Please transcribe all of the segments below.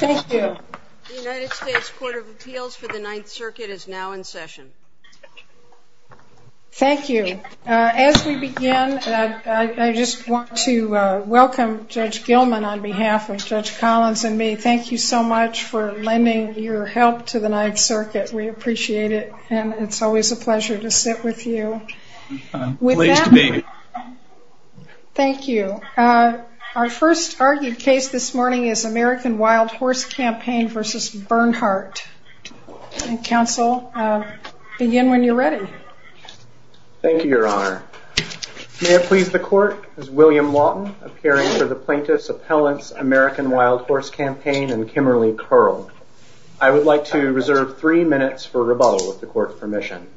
Thank you. The United States Court of Appeals for the Ninth Circuit is now in session. Thank you. As we begin, I just want to welcome Judge Gilman on behalf of Judge Collins and me. Thank you so much for lending your help to the Ninth Circuit. We appreciate it and it's always a pleasure to sit with you. I'm pleased to be here. Thank you. Our first argued case this morning is American Wild Horse Campaign v. Bernhardt. Counsel, begin when you're ready. Thank you, Your Honor. May it please the Court, as William Lawton, appearing for the Plaintiff's Appellant's American Wild Horse Campaign and Kimmerly Curl, I would like to reserve three minutes for rebuttal, with the Court's permission.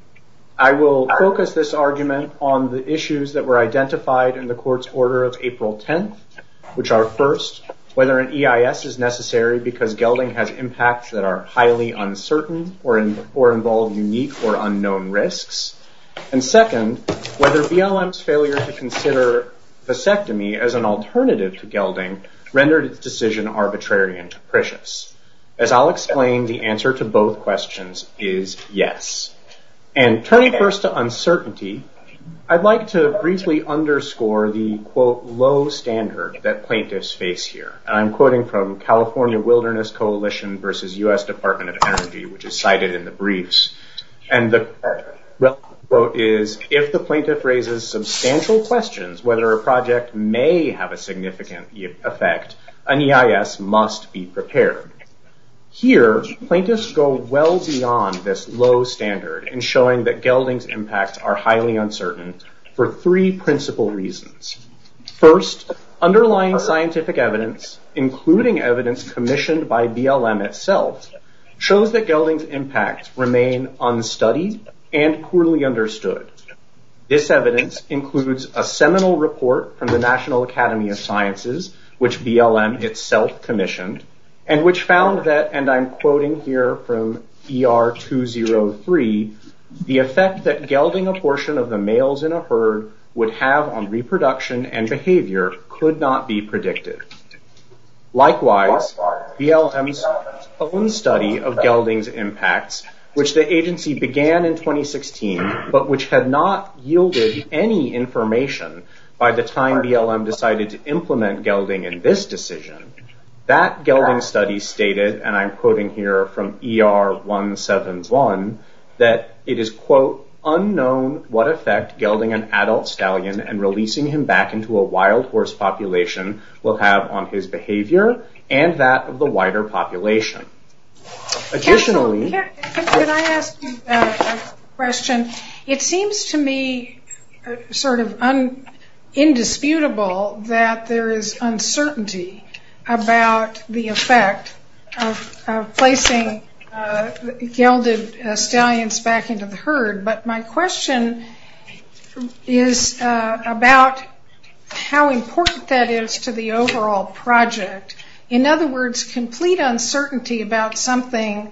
I will focus this argument on the issues that were identified in the Court's order of April 10th, which are first, whether an EIS is necessary because gelding has impacts that are highly uncertain or involve unique or unknown risks, and second, whether BLM's failure to consider vasectomy as an alternative to gelding rendered its decision arbitrary and capricious. As I'll explain, the answer to both questions is yes. Turning first to uncertainty, I'd like to briefly underscore the, quote, low standard that plaintiffs face here. I'm quoting from California Wilderness Coalition v. U.S. Department of Energy, which is cited in the briefs. The quote is, if the plaintiff raises substantial questions whether a project may have a significant effect, an EIS must be prepared. Here, plaintiffs go well beyond this low standard in showing that gelding's impacts are highly uncertain for three principal reasons. First, underlying scientific evidence, including evidence commissioned by BLM itself, shows that gelding's impacts remain unstudied and poorly understood. This evidence includes a seminal report from the National Academy of Sciences, which BLM itself commissioned, and which found that, and I'm quoting here from ER203, the effect that gelding a portion of the males in a herd would have on reproduction and behavior could not be predicted. Likewise, BLM's own study of gelding's impacts, which the agency began in 2016, but which had not yielded any information by the time BLM decided to implement gelding in this decision, that gelding study stated, and I'm quoting here from ER171, that it is, quote, unknown what effect gelding an adult stallion and releasing him back into a wild horse population will have on his behavior and that of the wider population. Additionally... Can I ask you a question? It seems to me sort of indisputable that there is uncertainty about the effect of placing gelded stallions back into the herd, but my question is about how important that is to the overall project. In other words, complete uncertainty about something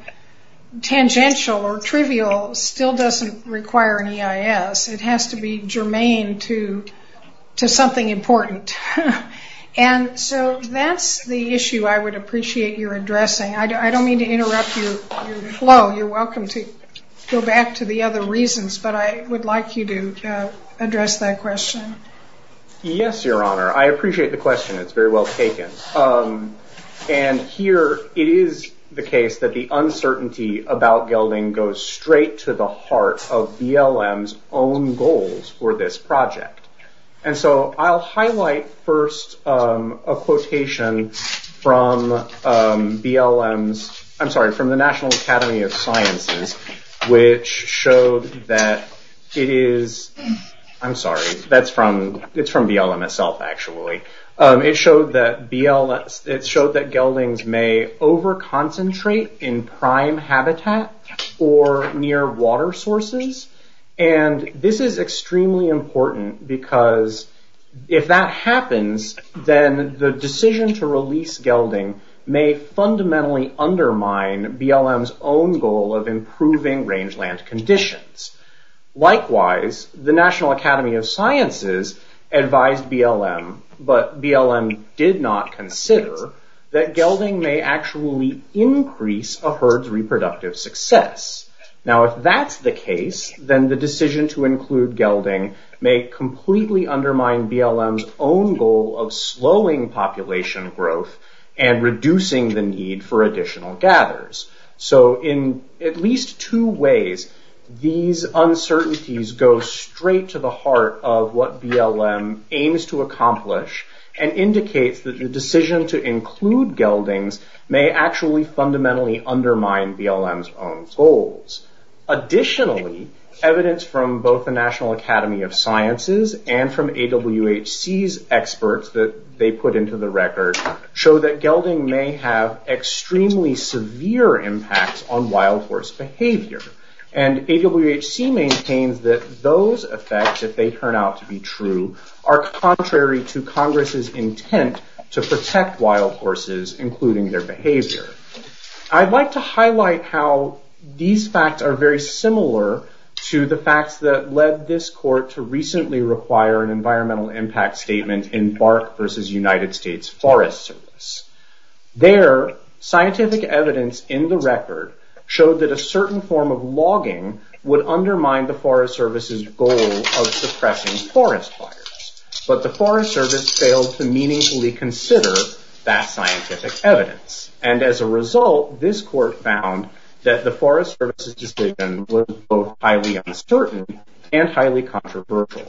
tangential or trivial still doesn't require an EIS. It has to be germane to something important. That's the issue I would appreciate your addressing. I don't mean to interrupt your flow. You're welcome to go back to the other reasons, but I would like you to address that question. Yes, Your Honor. I appreciate the question. It's very well taken. Here it is the case that the uncertainty about gelding goes straight to the heart of BLM's own goals for this project. I'll highlight first a quotation from the National Academy of Sciences, which showed that it is... I'm sorry. It's from BLM itself, actually. It showed that geldings may over-concentrate in prime habitat or near water sources. This is extremely important because if that happens, then the decision to release gelding may fundamentally undermine BLM's own goal of improving rangeland conditions. Likewise, the National Academy of Sciences advised BLM, but BLM did not consider, that gelding may actually increase a herd's reproductive success. Now, if that's the case, then the decision to include gelding may completely undermine BLM's own goal of slowing population growth and reducing the need for additional gathers. In at least two ways, these uncertainties go straight to the heart of what BLM aims to accomplish and indicates that the decision to include geldings may actually fundamentally undermine BLM's own goals. Additionally, evidence from both the National Academy of Sciences and from AWHC's experts that they put into the record, show that gelding may have extremely severe impacts on wild horse behavior. AWHC maintains that those effects, if they turn out to be true, are contrary to Congress's intent to protect wild horses, including their behavior. I'd like to highlight how these facts are very similar to the facts that led this court to recently require an environmental impact statement in BARC v. United States Forest Service. There, scientific evidence in the record showed that a certain form of logging would undermine the Forest Service's goal of suppressing forest fires, but the Forest Service failed to meaningfully consider that scientific evidence, and as a result, this court found that the Forest Service's decision was both highly uncertain and highly controversial.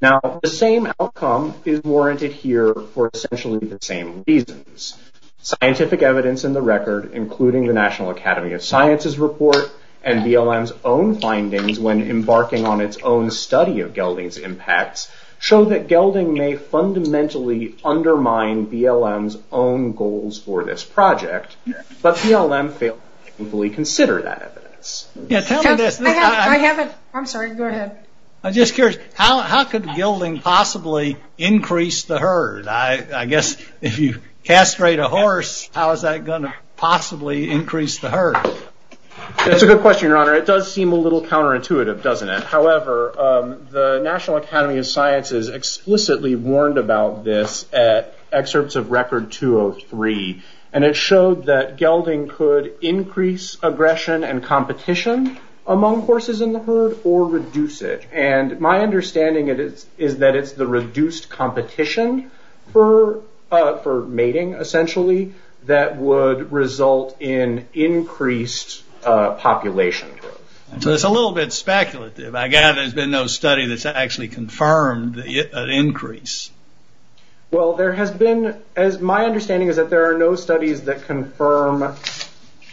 Now, the same outcome is warranted here for essentially the same reasons. Scientific evidence in the record, including the National Academy of Sciences report and BLM's own findings when embarking on its own study of gelding's impacts, show that gelding may fundamentally undermine BLM's own goals for this project, but BLM failed to meaningfully consider that evidence. I'm sorry, go ahead. I'm just curious, how could gelding possibly increase the herd? I guess if you castrate a horse, how is that going to possibly increase the herd? That's a good question, Your Honor. It does seem a little counterintuitive, doesn't it? However, the National Academy of Sciences explicitly warned about this at excerpts of Record 203, and it showed that gelding could increase aggression and competition among horses in the herd or reduce it. My understanding is that it's the reduced competition for mating, essentially, that would result in increased population growth. It's a little bit speculative. I gather there's been no study that's actually confirmed an increase. There has been. My understanding is that there are no studies that confirm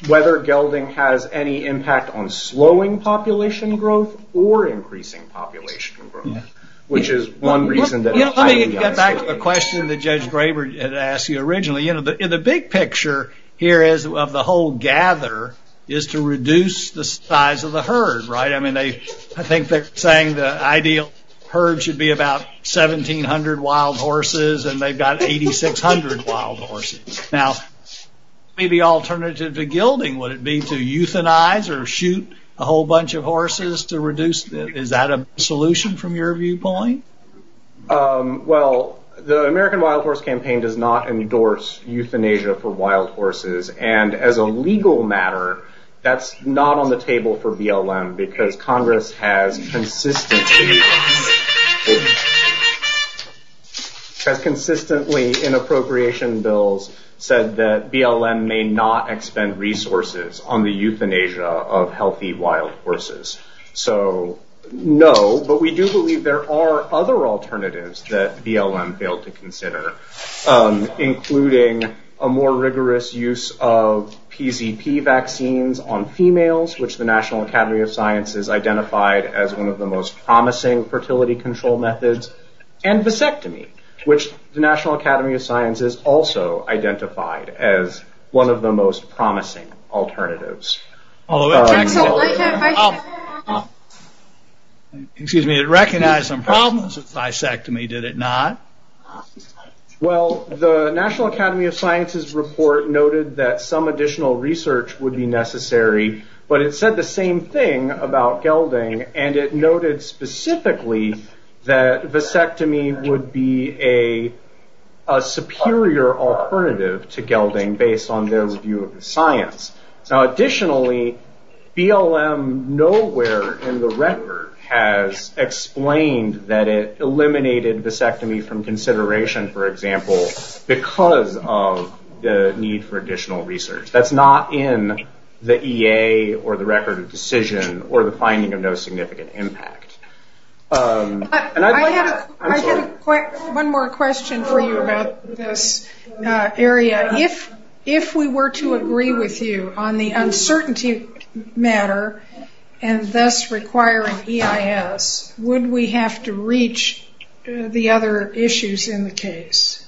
whether gelding has any impact on slowing population growth or increasing population growth, which is one reason that... Let me get back to the question that Judge Graber had asked you originally. The big picture here of the whole gather is to reduce the size of the herd. I think they're saying the ideal herd should be about 1,700 wild horses, and they've got 8,600 wild horses. Now, maybe alternative to gelding, would it be to euthanize or shoot a whole bunch of horses to reduce it? Is that a solution from your viewpoint? Well, the American Wild Horse Campaign does not endorse euthanasia for wild horses. As a legal matter, that's not on the table for BLM because Congress has consistently in appropriation bills said that BLM may not expend resources on the euthanasia of healthy wild horses. No, but we do believe there are other alternatives that BLM failed to consider, including a more rigorous use of PZP vaccines on females, which the National Academy of Science has identified as one of the most promising fertility control methods, and vasectomy, which the National Academy of Science has also identified as one of the most promising alternatives. Excuse me. It recognized some problems with vasectomy, did it not? Well, the National Academy of Science's report noted that some additional research would be necessary, but it said the same thing about gelding, and it noted specifically that vasectomy would be a superior alternative to gelding based on their view of the science. Additionally, BLM nowhere in the record has explained that it eliminated vasectomy from consideration, for example, because of the need for additional research. That's not in the EA or the record of decision or the finding of no significant impact. I have one more question for you about this area. If we were to agree with you on the uncertainty matter, and thus requiring EIS, would we have to reach the other issues in the case?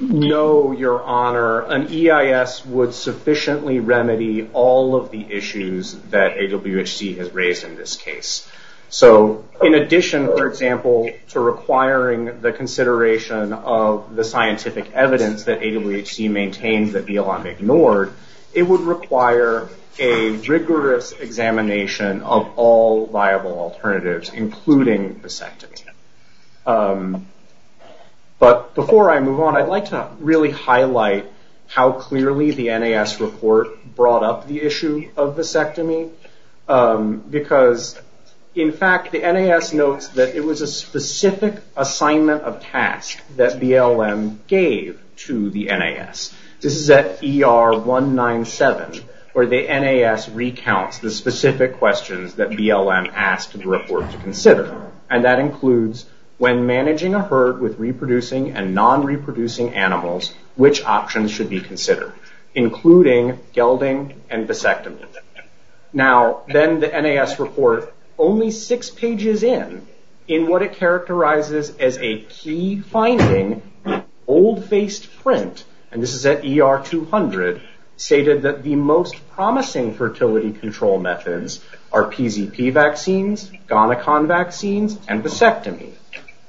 No, Your Honor. An EIS would sufficiently remedy all of the issues that AWHC has raised in this case. In addition, for example, to requiring the consideration of the scientific evidence that AWHC maintains that BLM ignored, it would require a rigorous examination of all viable alternatives, including vasectomy. Before I move on, I'd like to really highlight how clearly the NAS report brought up the issue of vasectomy. In fact, the NAS notes that it was a specific assignment of task that BLM gave to the NAS. This is at ER197, where the NAS recounts the specific questions that BLM asked the report to consider. That includes, when managing a herd with reproducing and non-reproducing animals, which options should be considered, including gelding and vasectomy. Then, the NAS report, only six pages in, in what it characterizes as a key finding, old-faced print, and this is at ER200, stated that the most promising fertility control methods are PZP vaccines, Gonicon vaccines, and vasectomy.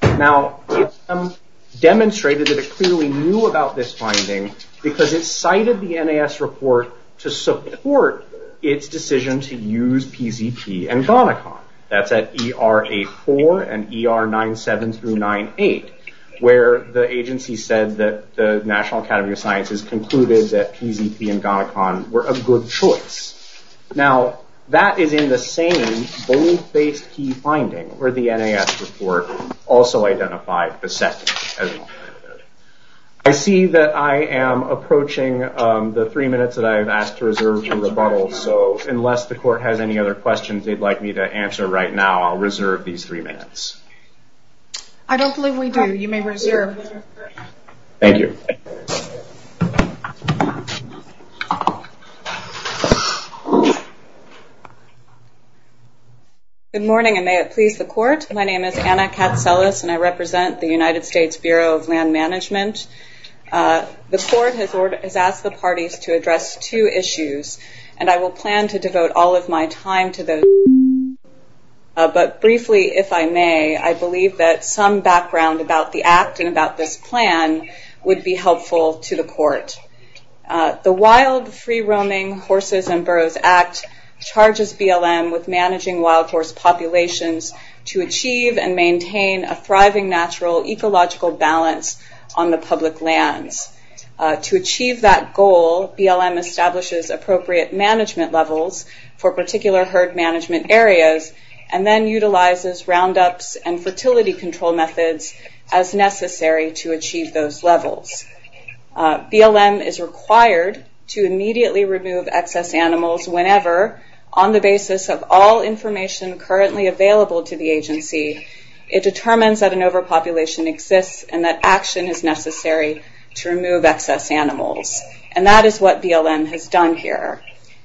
Now, BLM demonstrated that it clearly knew about this finding, because it cited the NAS report to support its decision to use PZP and Gonicon. That's at ER84 and ER97 through 98, where the agency said that the National Academy of Sciences concluded that PZP and Gonicon were a good choice. Now, that is in the same old-faced key finding, where the NAS report also identified vasectomy as well. I see that I am approaching the three minutes that I have asked to reserve for rebuttal, so unless the court has any other questions they'd like me to answer right now, I'll reserve these three minutes. I don't believe we do. You may reserve. Good morning, and may it please the court. My name is Anna Katselis, and I represent the United States Bureau of Land Management. The court has asked the parties to address two issues, and I will plan to devote all of my time to those issues, but briefly, if I may, I believe that some background about the act and about this plan would be helpful to the court. The Wild Free-Roaming Horses and Burros Act charges BLM with managing wild horse populations to achieve and maintain a thriving natural ecological balance on the public lands. To achieve that goal, BLM establishes appropriate management levels for particular herd management areas, and then utilizes roundups and fertility control methods as necessary to achieve those levels. BLM is required to immediately remove excess animals whenever, on the basis of all information currently available to the agency, it determines that an overpopulation exists and that action is necessary to remove excess animals, and that is what BLM has done here.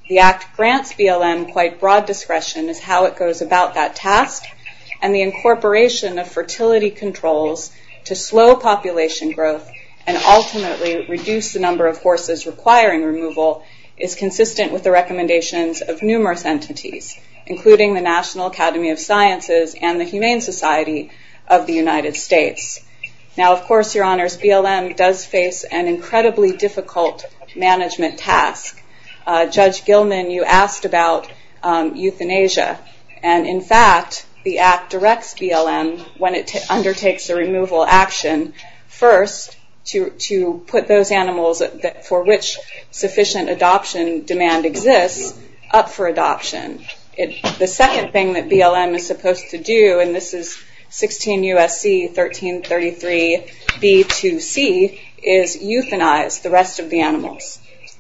The act grants BLM quite broad discretion as how it goes about that task, and the incorporation of fertility controls to slow population growth and ultimately reduce the number of horses requiring removal is consistent with the recommendations of numerous entities, including the National Academy of Sciences and the Humane Society of the United States. Now, of course, your honors, BLM does face an incredibly difficult management task. Judge when it undertakes a removal action, first to put those animals for which sufficient adoption demand exists up for adoption. The second thing that BLM is supposed to do, and this is 16 U.S.C. 1333 B2C, is euthanize the rest of the animals,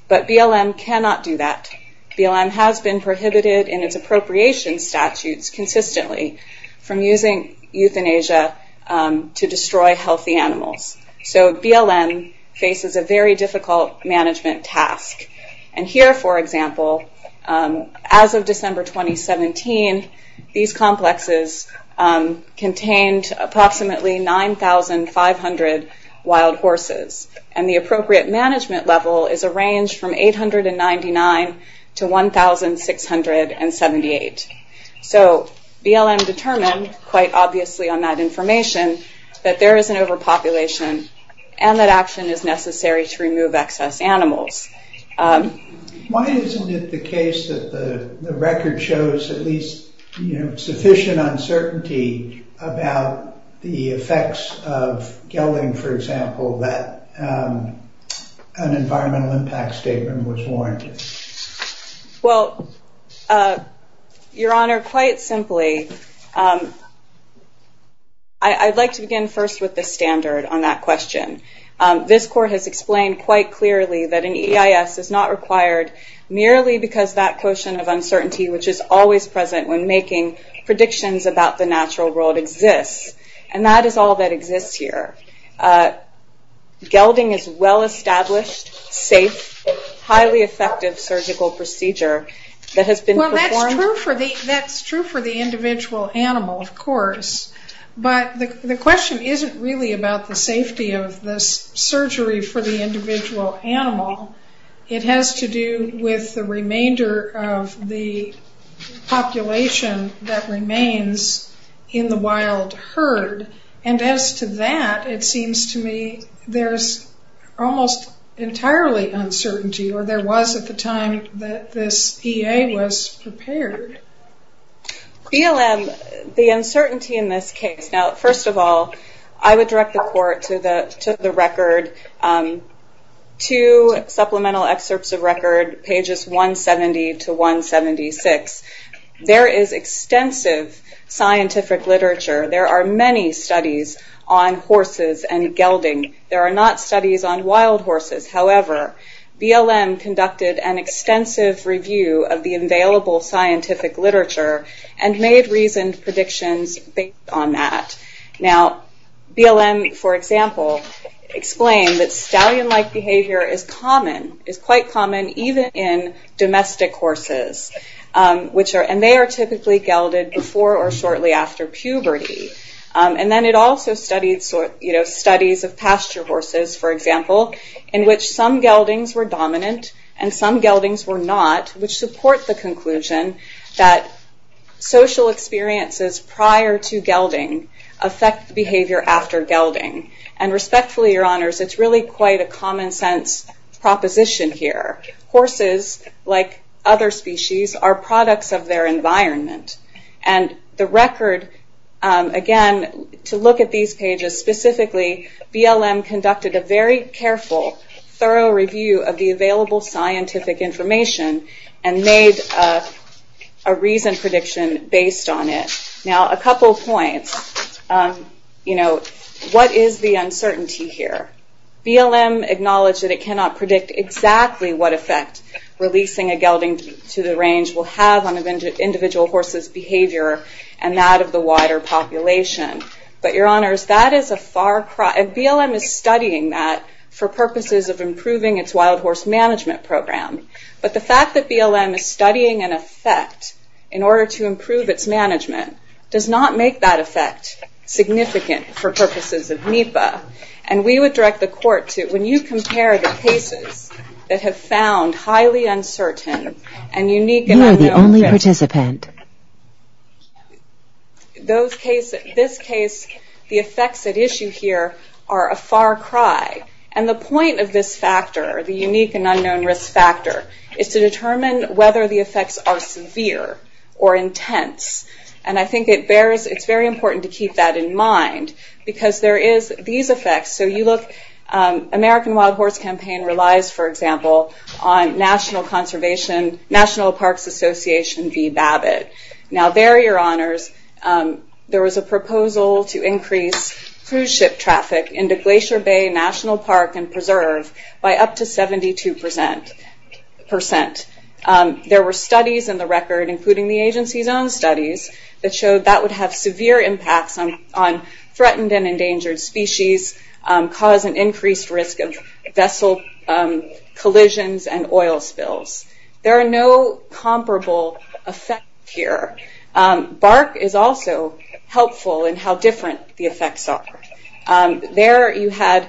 but BLM cannot do that. BLM has been prohibited in its appropriation statutes consistently from using euthanasia to destroy healthy animals, so BLM faces a very difficult management task, and here, for example, as of December 2017, these complexes contained approximately 9,500 wild horses, and the appropriate management level is a range from 899 to 1,678. BLM determined, quite obviously on that information, that there is an overpopulation and that action is necessary to remove excess animals. Why isn't it the case that the record shows at least sufficient uncertainty about the natural world, and that an environmental impact statement was warranted? Your honor, quite simply, I'd like to begin first with the standard on that question. This court has explained quite clearly that an EIS is not required merely because that quotient of uncertainty, which is always present when making predictions about the natural world, exists, and that is all that exists here. Gelding is well-established, safe, highly effective surgical procedure that has been performed... Well, that's true for the individual animal, of course, but the question isn't really about the safety of the surgery for the individual animal. It has to do with the remainder of the population that remains in the wild herd, and as to that, it seems to me there's almost entirely uncertainty, or there was at the time that this EA was prepared. BLM, the uncertainty in this case, now first of all, I would direct the court to the record, two supplemental excerpts of record, pages 170 to 176. There is extensive scientific literature. There are many studies on horses and gelding. There are not studies on wild horses. However, BLM conducted an extensive review of the available scientific literature and made reasoned predictions based on that. Now, BLM, for example, explained that stallion-like behavior is common, is quite common, even in domestic horses, and they are typically gelded before or shortly after puberty. Then it also studied studies of pasture horses, for example, in which some geldings were dominant and some geldings were not, which support the conclusion that social experiences prior to gelding affect behavior after gelding. Respectfully, your honors, it's really quite a common sense proposition here. Horses, like other species, are products of their environment. The record, again, to look at these pages specifically, BLM conducted a very careful, thorough review of the available scientific information and made a reasoned prediction based on it. Now, a couple points. What is the uncertainty here? BLM acknowledged that it cannot predict exactly what effect releasing a gelding to the range will have on an individual horse's behavior and that of the wider population. Your honors, that is a far cry. BLM is studying that for purposes of improving its wild horse management program. The fact that BLM is studying an effect in order to improve its management does not make that effect significant for purposes of NEPA. We would direct the court to, when you compare the cases that have found highly uncertain and unique and unknown... You are the only participant.... in this case, the effects at issue here are a far cry. The point of this factor, the unique and unknown risk factor, is to determine whether the effects are severe or intense. I think it's very important to keep that in mind because there is these effects. American Wild Horse Campaign relies, for example, on National Conservation... National Parks Association v. Babbitt. Now, there, your honors, there was a proposal to increase cruise ship traffic into Glacier Bay National Park and Preserve by up to 72%. There were studies in the record, including the agency's own studies, that showed that would have severe impacts on threatened and endangered species, cause an increased risk of vessel collisions and oil spills. There are no comparable effects here. BARC is also helpful in how different the effects are. There, you had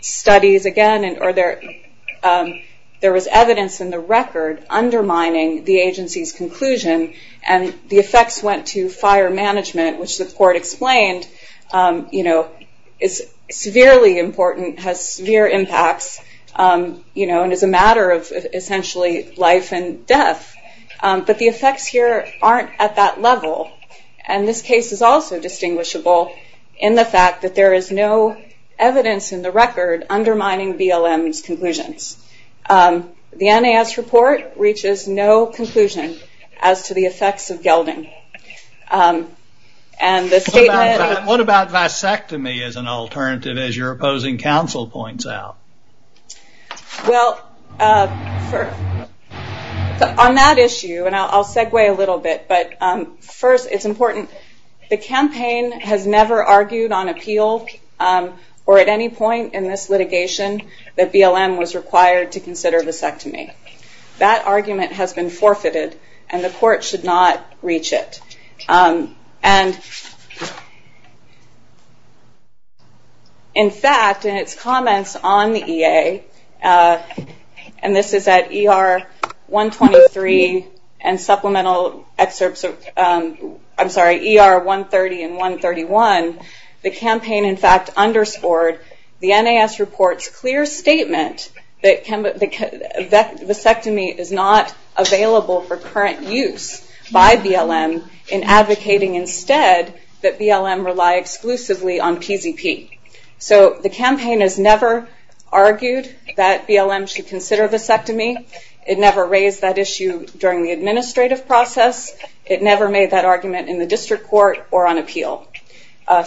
studies again, or there was evidence in the record undermining the agency's conclusion, and the effects went to fire management, which the court explained is severely important, has severe impacts, and is a matter of essentially life and death. The effects here aren't at that level, and this case is also distinguishable in the fact that there is no evidence in the record undermining BLM's conclusions. The NAS report reaches no conclusion as to the effects of gelding, and the statement... What about vasectomy as an alternative, as your opposing counsel points out? On that issue, and I'll segue a little bit, but first, it's important. The campaign has never argued on appeal, or at any point in this litigation, that BLM was required to have been forfeited, and the court should not reach it. In fact, in its comments on the EA, and this is at ER-123 and supplemental... I'm sorry, ER-130 and 131, the campaign in fact underscored the NAS report's clear statement that vasectomy is not an alternative available for current use by BLM, in advocating instead that BLM rely exclusively on PZP. The campaign has never argued that BLM should consider vasectomy. It never raised that issue during the administrative process. It never made that argument in the district court or on appeal.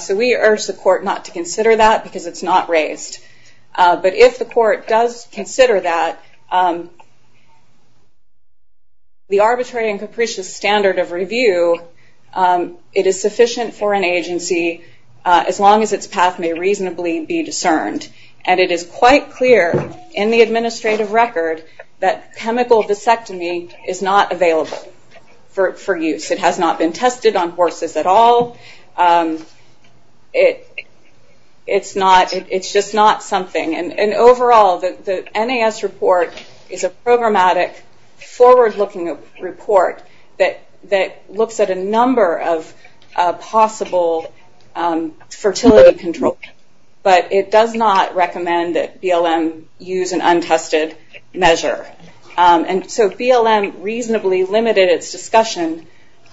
We urge the court not to consider that, because it's not raised. If the court does consider that, the arbitrary and capricious standard of review, it is sufficient for an agency, as long as its path may reasonably be discerned. It is quite clear in the administrative record that chemical vasectomy is not available for use. It has not been tested on horses at all. It's just not something. Overall, the NAS report is a programmatic, forward-looking report that looks at a number of possible fertility control, but it does not recommend that BLM use an untested measure. BLM reasonably limited its discussion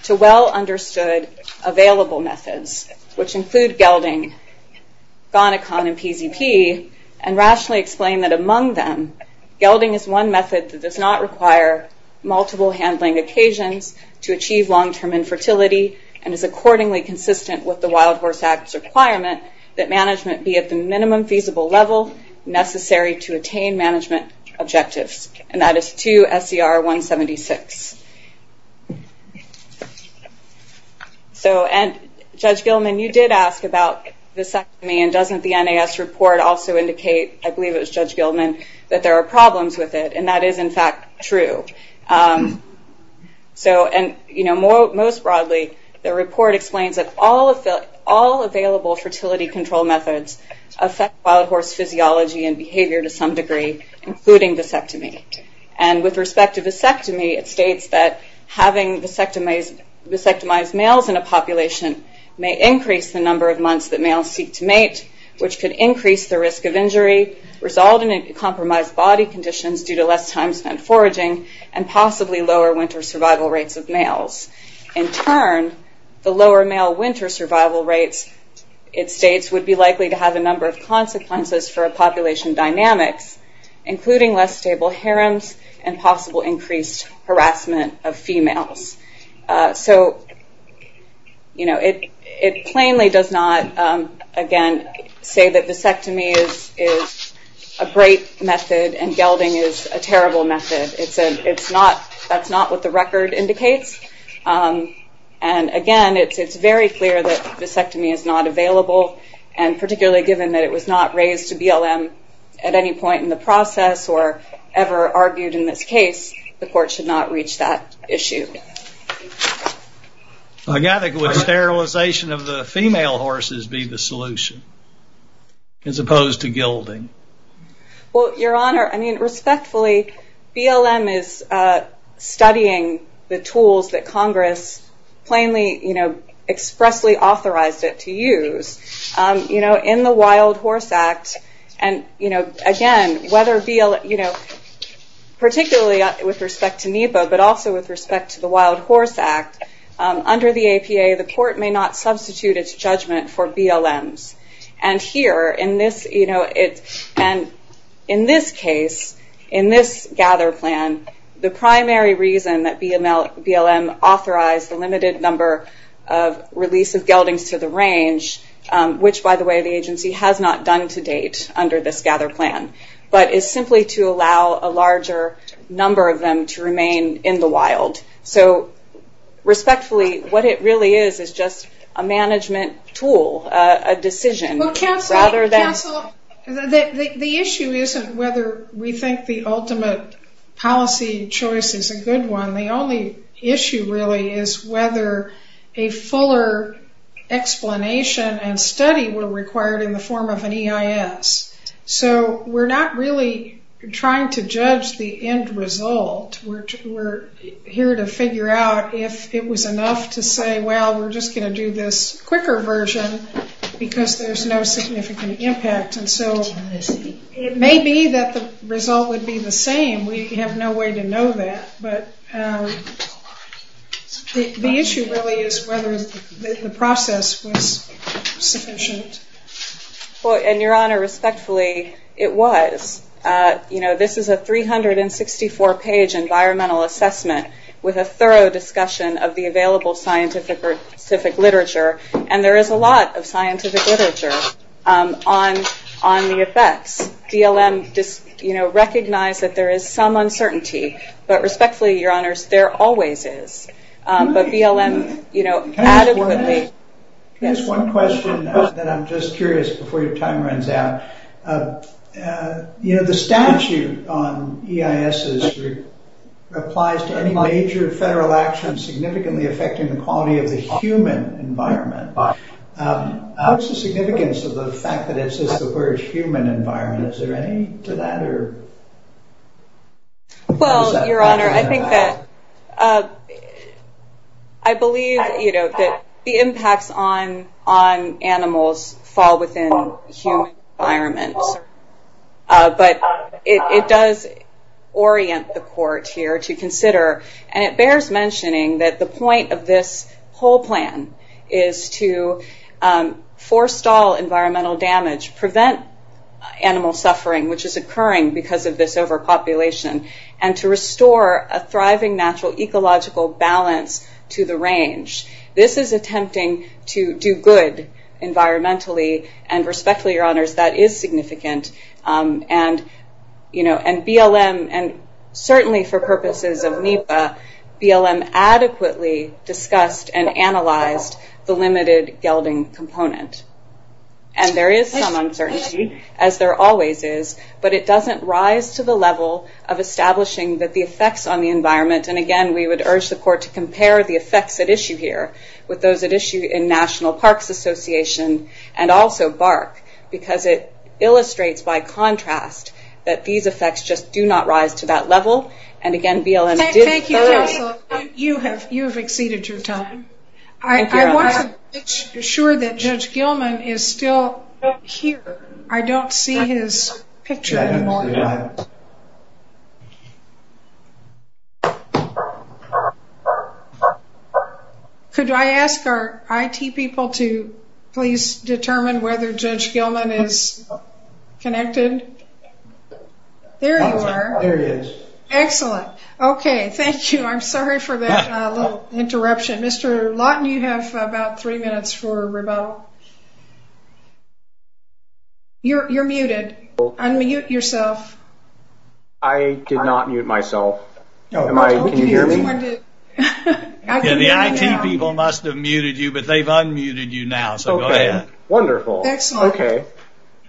to well-understood available methods, which include gelding, Gonicon, and PZP, and rationally explain that among them, gelding is one method that does not require multiple handling occasions to achieve long-term infertility, and is accordingly consistent with the Wild Horse Act's requirement that management be at the minimum feasible level necessary to attain management objectives, and that is 2 SCR 176. Judge Gilman, you did ask about vasectomy, and doesn't the NAS report also indicate, I believe it was Judge Gilman, that there are problems with it, and that is in fact true. Most broadly, the report explains that all available fertility control methods affect wild horse physiology and behavior to some degree, including vasectomy, and with respect to vasectomy, it states that having vasectomized males in a population may increase the number of months that males seek to mate, which could increase the risk of injury, result in compromised body conditions due to less time spent foraging, and possibly lower winter survival rates of males. In turn, the lower male winter survival rates, it states, would be likely to have a number of consequences for population dynamics, including less stable harems, and possible increased harassment of females. It plainly does not, again, say that vasectomy is a great method, and gelding is a terrible method. That's not what the record indicates, and again, it's very clear that vasectomy is not available, and particularly given that it was not raised to BLM at any point in the process, or ever argued in this case, the court should not reach that issue. I gather that sterilization of the female horses be the solution, as opposed to gelding. Well, Your Honor, I mean, respectfully, BLM is studying the tools that Congress plainly, expressly authorized it to use. In the Wild Horse Act, and again, whether BLM, particularly with respect to NEPA, but also with respect to the Wild Horse Act, under the APA, the court may not substitute its judgment for BLM's. And here, in this case, in this gather plan, the primary reason that BLM authorized the release of geldings to the range, which, by the way, the agency has not done to date under this gather plan, but is simply to allow a larger number of them to remain in the wild. So, respectfully, what it really is, is just a management tool, a decision, rather than- The issue isn't whether we think the ultimate policy choice is a good one. The only issue really is whether a fuller explanation and study were required in the form of an EIS. So we're not really trying to judge the end result. We're here to figure out if it was enough to say, well, we're just going to do this quicker version, because there's no significant impact. And so it may be that the result would be the same. We have no way to know that. But the issue really is whether the process was sufficient. And your Honor, respectfully, it was. This is a 364-page environmental assessment with a thorough discussion of the available scientific literature. And there is a lot of scientific literature on the effects. BLM recognized that there is some uncertainty, but respectfully, Your Honor, there always is. But BLM- Can I ask one question? Yes. Can I ask one question that I'm just curious, before your time runs out? You know, the statute on EISs applies to any major federal action significantly affecting the quality of the human environment. How is the significance of the fact that it says the word human environment? Is there any to that? Well, Your Honor, I think that, I believe that the impacts on animals fall within the human environment. But it does orient the Court here to consider, and it bears mentioning that the point of this whole plan is to forestall environmental damage, prevent animal suffering, which is occurring because of this overpopulation, and to restore a thriving natural ecological balance to the range. This is attempting to do good environmentally, and respectfully, Your Honors, that is significant. And BLM, and certainly for purposes of NEPA, BLM adequately discussed and analyzed the limited gelding component. And there is some uncertainty, as there always is, but it doesn't rise to the level of establishing that the effects on the environment, and again, we would urge the Court to compare the effects at issue here with those at issue in National Parks Association, and also BARC, because it illustrates by contrast that these effects just do not rise to that level. And again, BLM did... Thank you, counsel. You have exceeded your time. I wasn't sure that Judge Gilman is still here. I don't see his picture anymore. Could I ask our IT people to please determine whether Judge Gilman is connected? There you are. There he is. Excellent. Okay, thank you. I'm sorry. You're muted. Unmute yourself. I did not mute myself. Can you hear me? The IT people must have muted you, but they've unmuted you now, so go ahead. Wonderful. Excellent. Okay,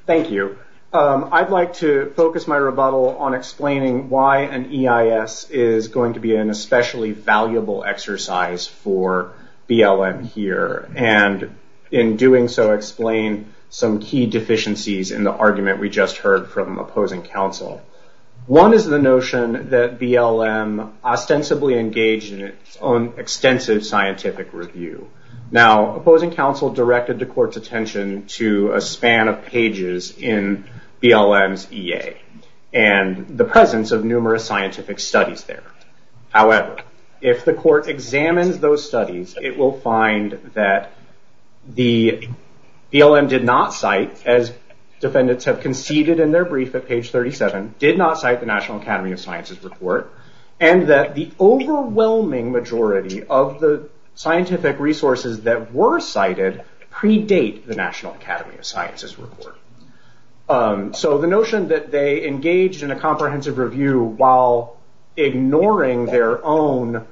thank you. I'd like to focus my rebuttal on explaining why an EIS is going to be an especially valuable exercise for BLM here, and in doing so, explain some key deficiencies in the argument we just heard from opposing counsel. One is the notion that BLM ostensibly engaged in its own extensive scientific review. Now, opposing counsel directed the Court's attention to a span of pages in BLM's EA, and the presence of numerous scientific studies there. However, if the Court examines those studies, it will find that the BLM did not cite, as defendants have conceded in their brief at page 37, did not cite the National Academy of Sciences report, and that the overwhelming majority of the scientific resources that were cited predate the National Academy of Sciences report. So the notion that they engaged in a comprehensive review while ignoring their own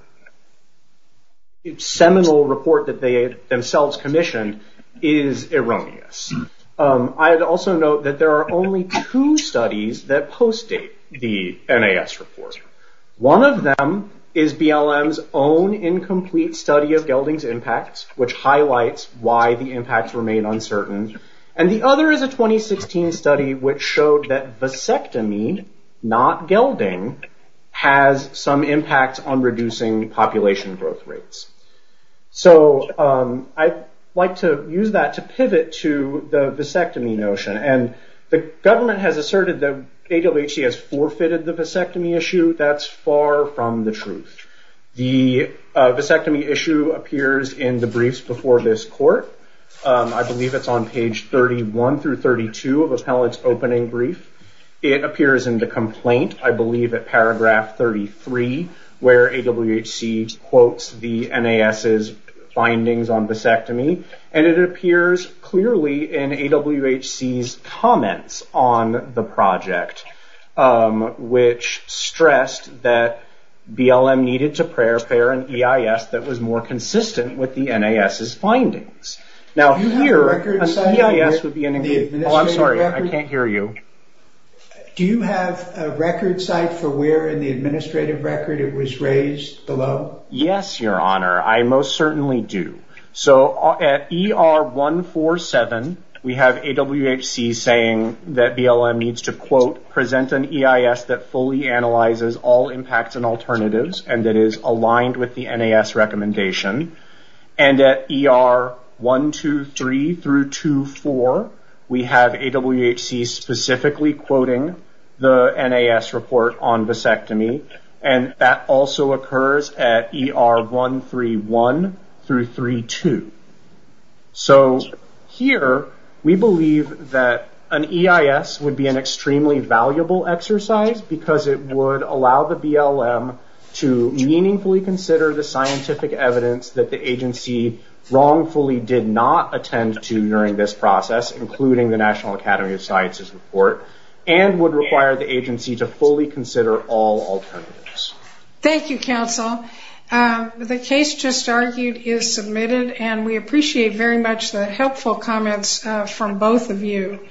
seminal report that they themselves commissioned is erroneous. I'd also note that there are only two studies that post-date the NAS report. One of them is BLM's own incomplete study of gelding's impacts, which highlights why the impacts remain uncertain, and the other is a 2016 study which showed that vasectomy, not gelding, has some impact on reducing population growth rates. So I'd like to use that to pivot to the vasectomy notion, and the government has asserted that AWHC has forfeited the vasectomy issue. That's far from the truth. The vasectomy issue appears in the briefs before this court. I believe it's on page 31 through 32 of Appellate's opening brief. It appears in the complaint, I believe at paragraph 33, where AWHC quotes the NAS's findings on vasectomy, and it appears clearly in AWHC's comments on the project, which stressed that BLM needed to prepare an EIS that was more consistent with the NAS's findings. Do you have a record site for where in the administrative record it was raised below? Yes, Your Honor. I most certainly do. So at ER 147, we have AWHC saying that BLM needs to, quote, present an EIS that fully analyzes all impacts and alternatives, and that is aligned with the NAS recommendation. And at ER 123 through 24, we have AWHC specifically quoting the NAS report on vasectomy, and that also occurs at ER 131 through 32. So, here, we believe that an EIS would be an extremely valuable exercise, because it would allow the BLM to meaningfully consider the scientific evidence that the agency wrongfully did not attend to during this process, including the National Academy of Sciences report, and would require the agency to fully consider all alternatives. Thank you, counsel. The case just argued is submitted, and we appreciate very much the helpful comments from both of you.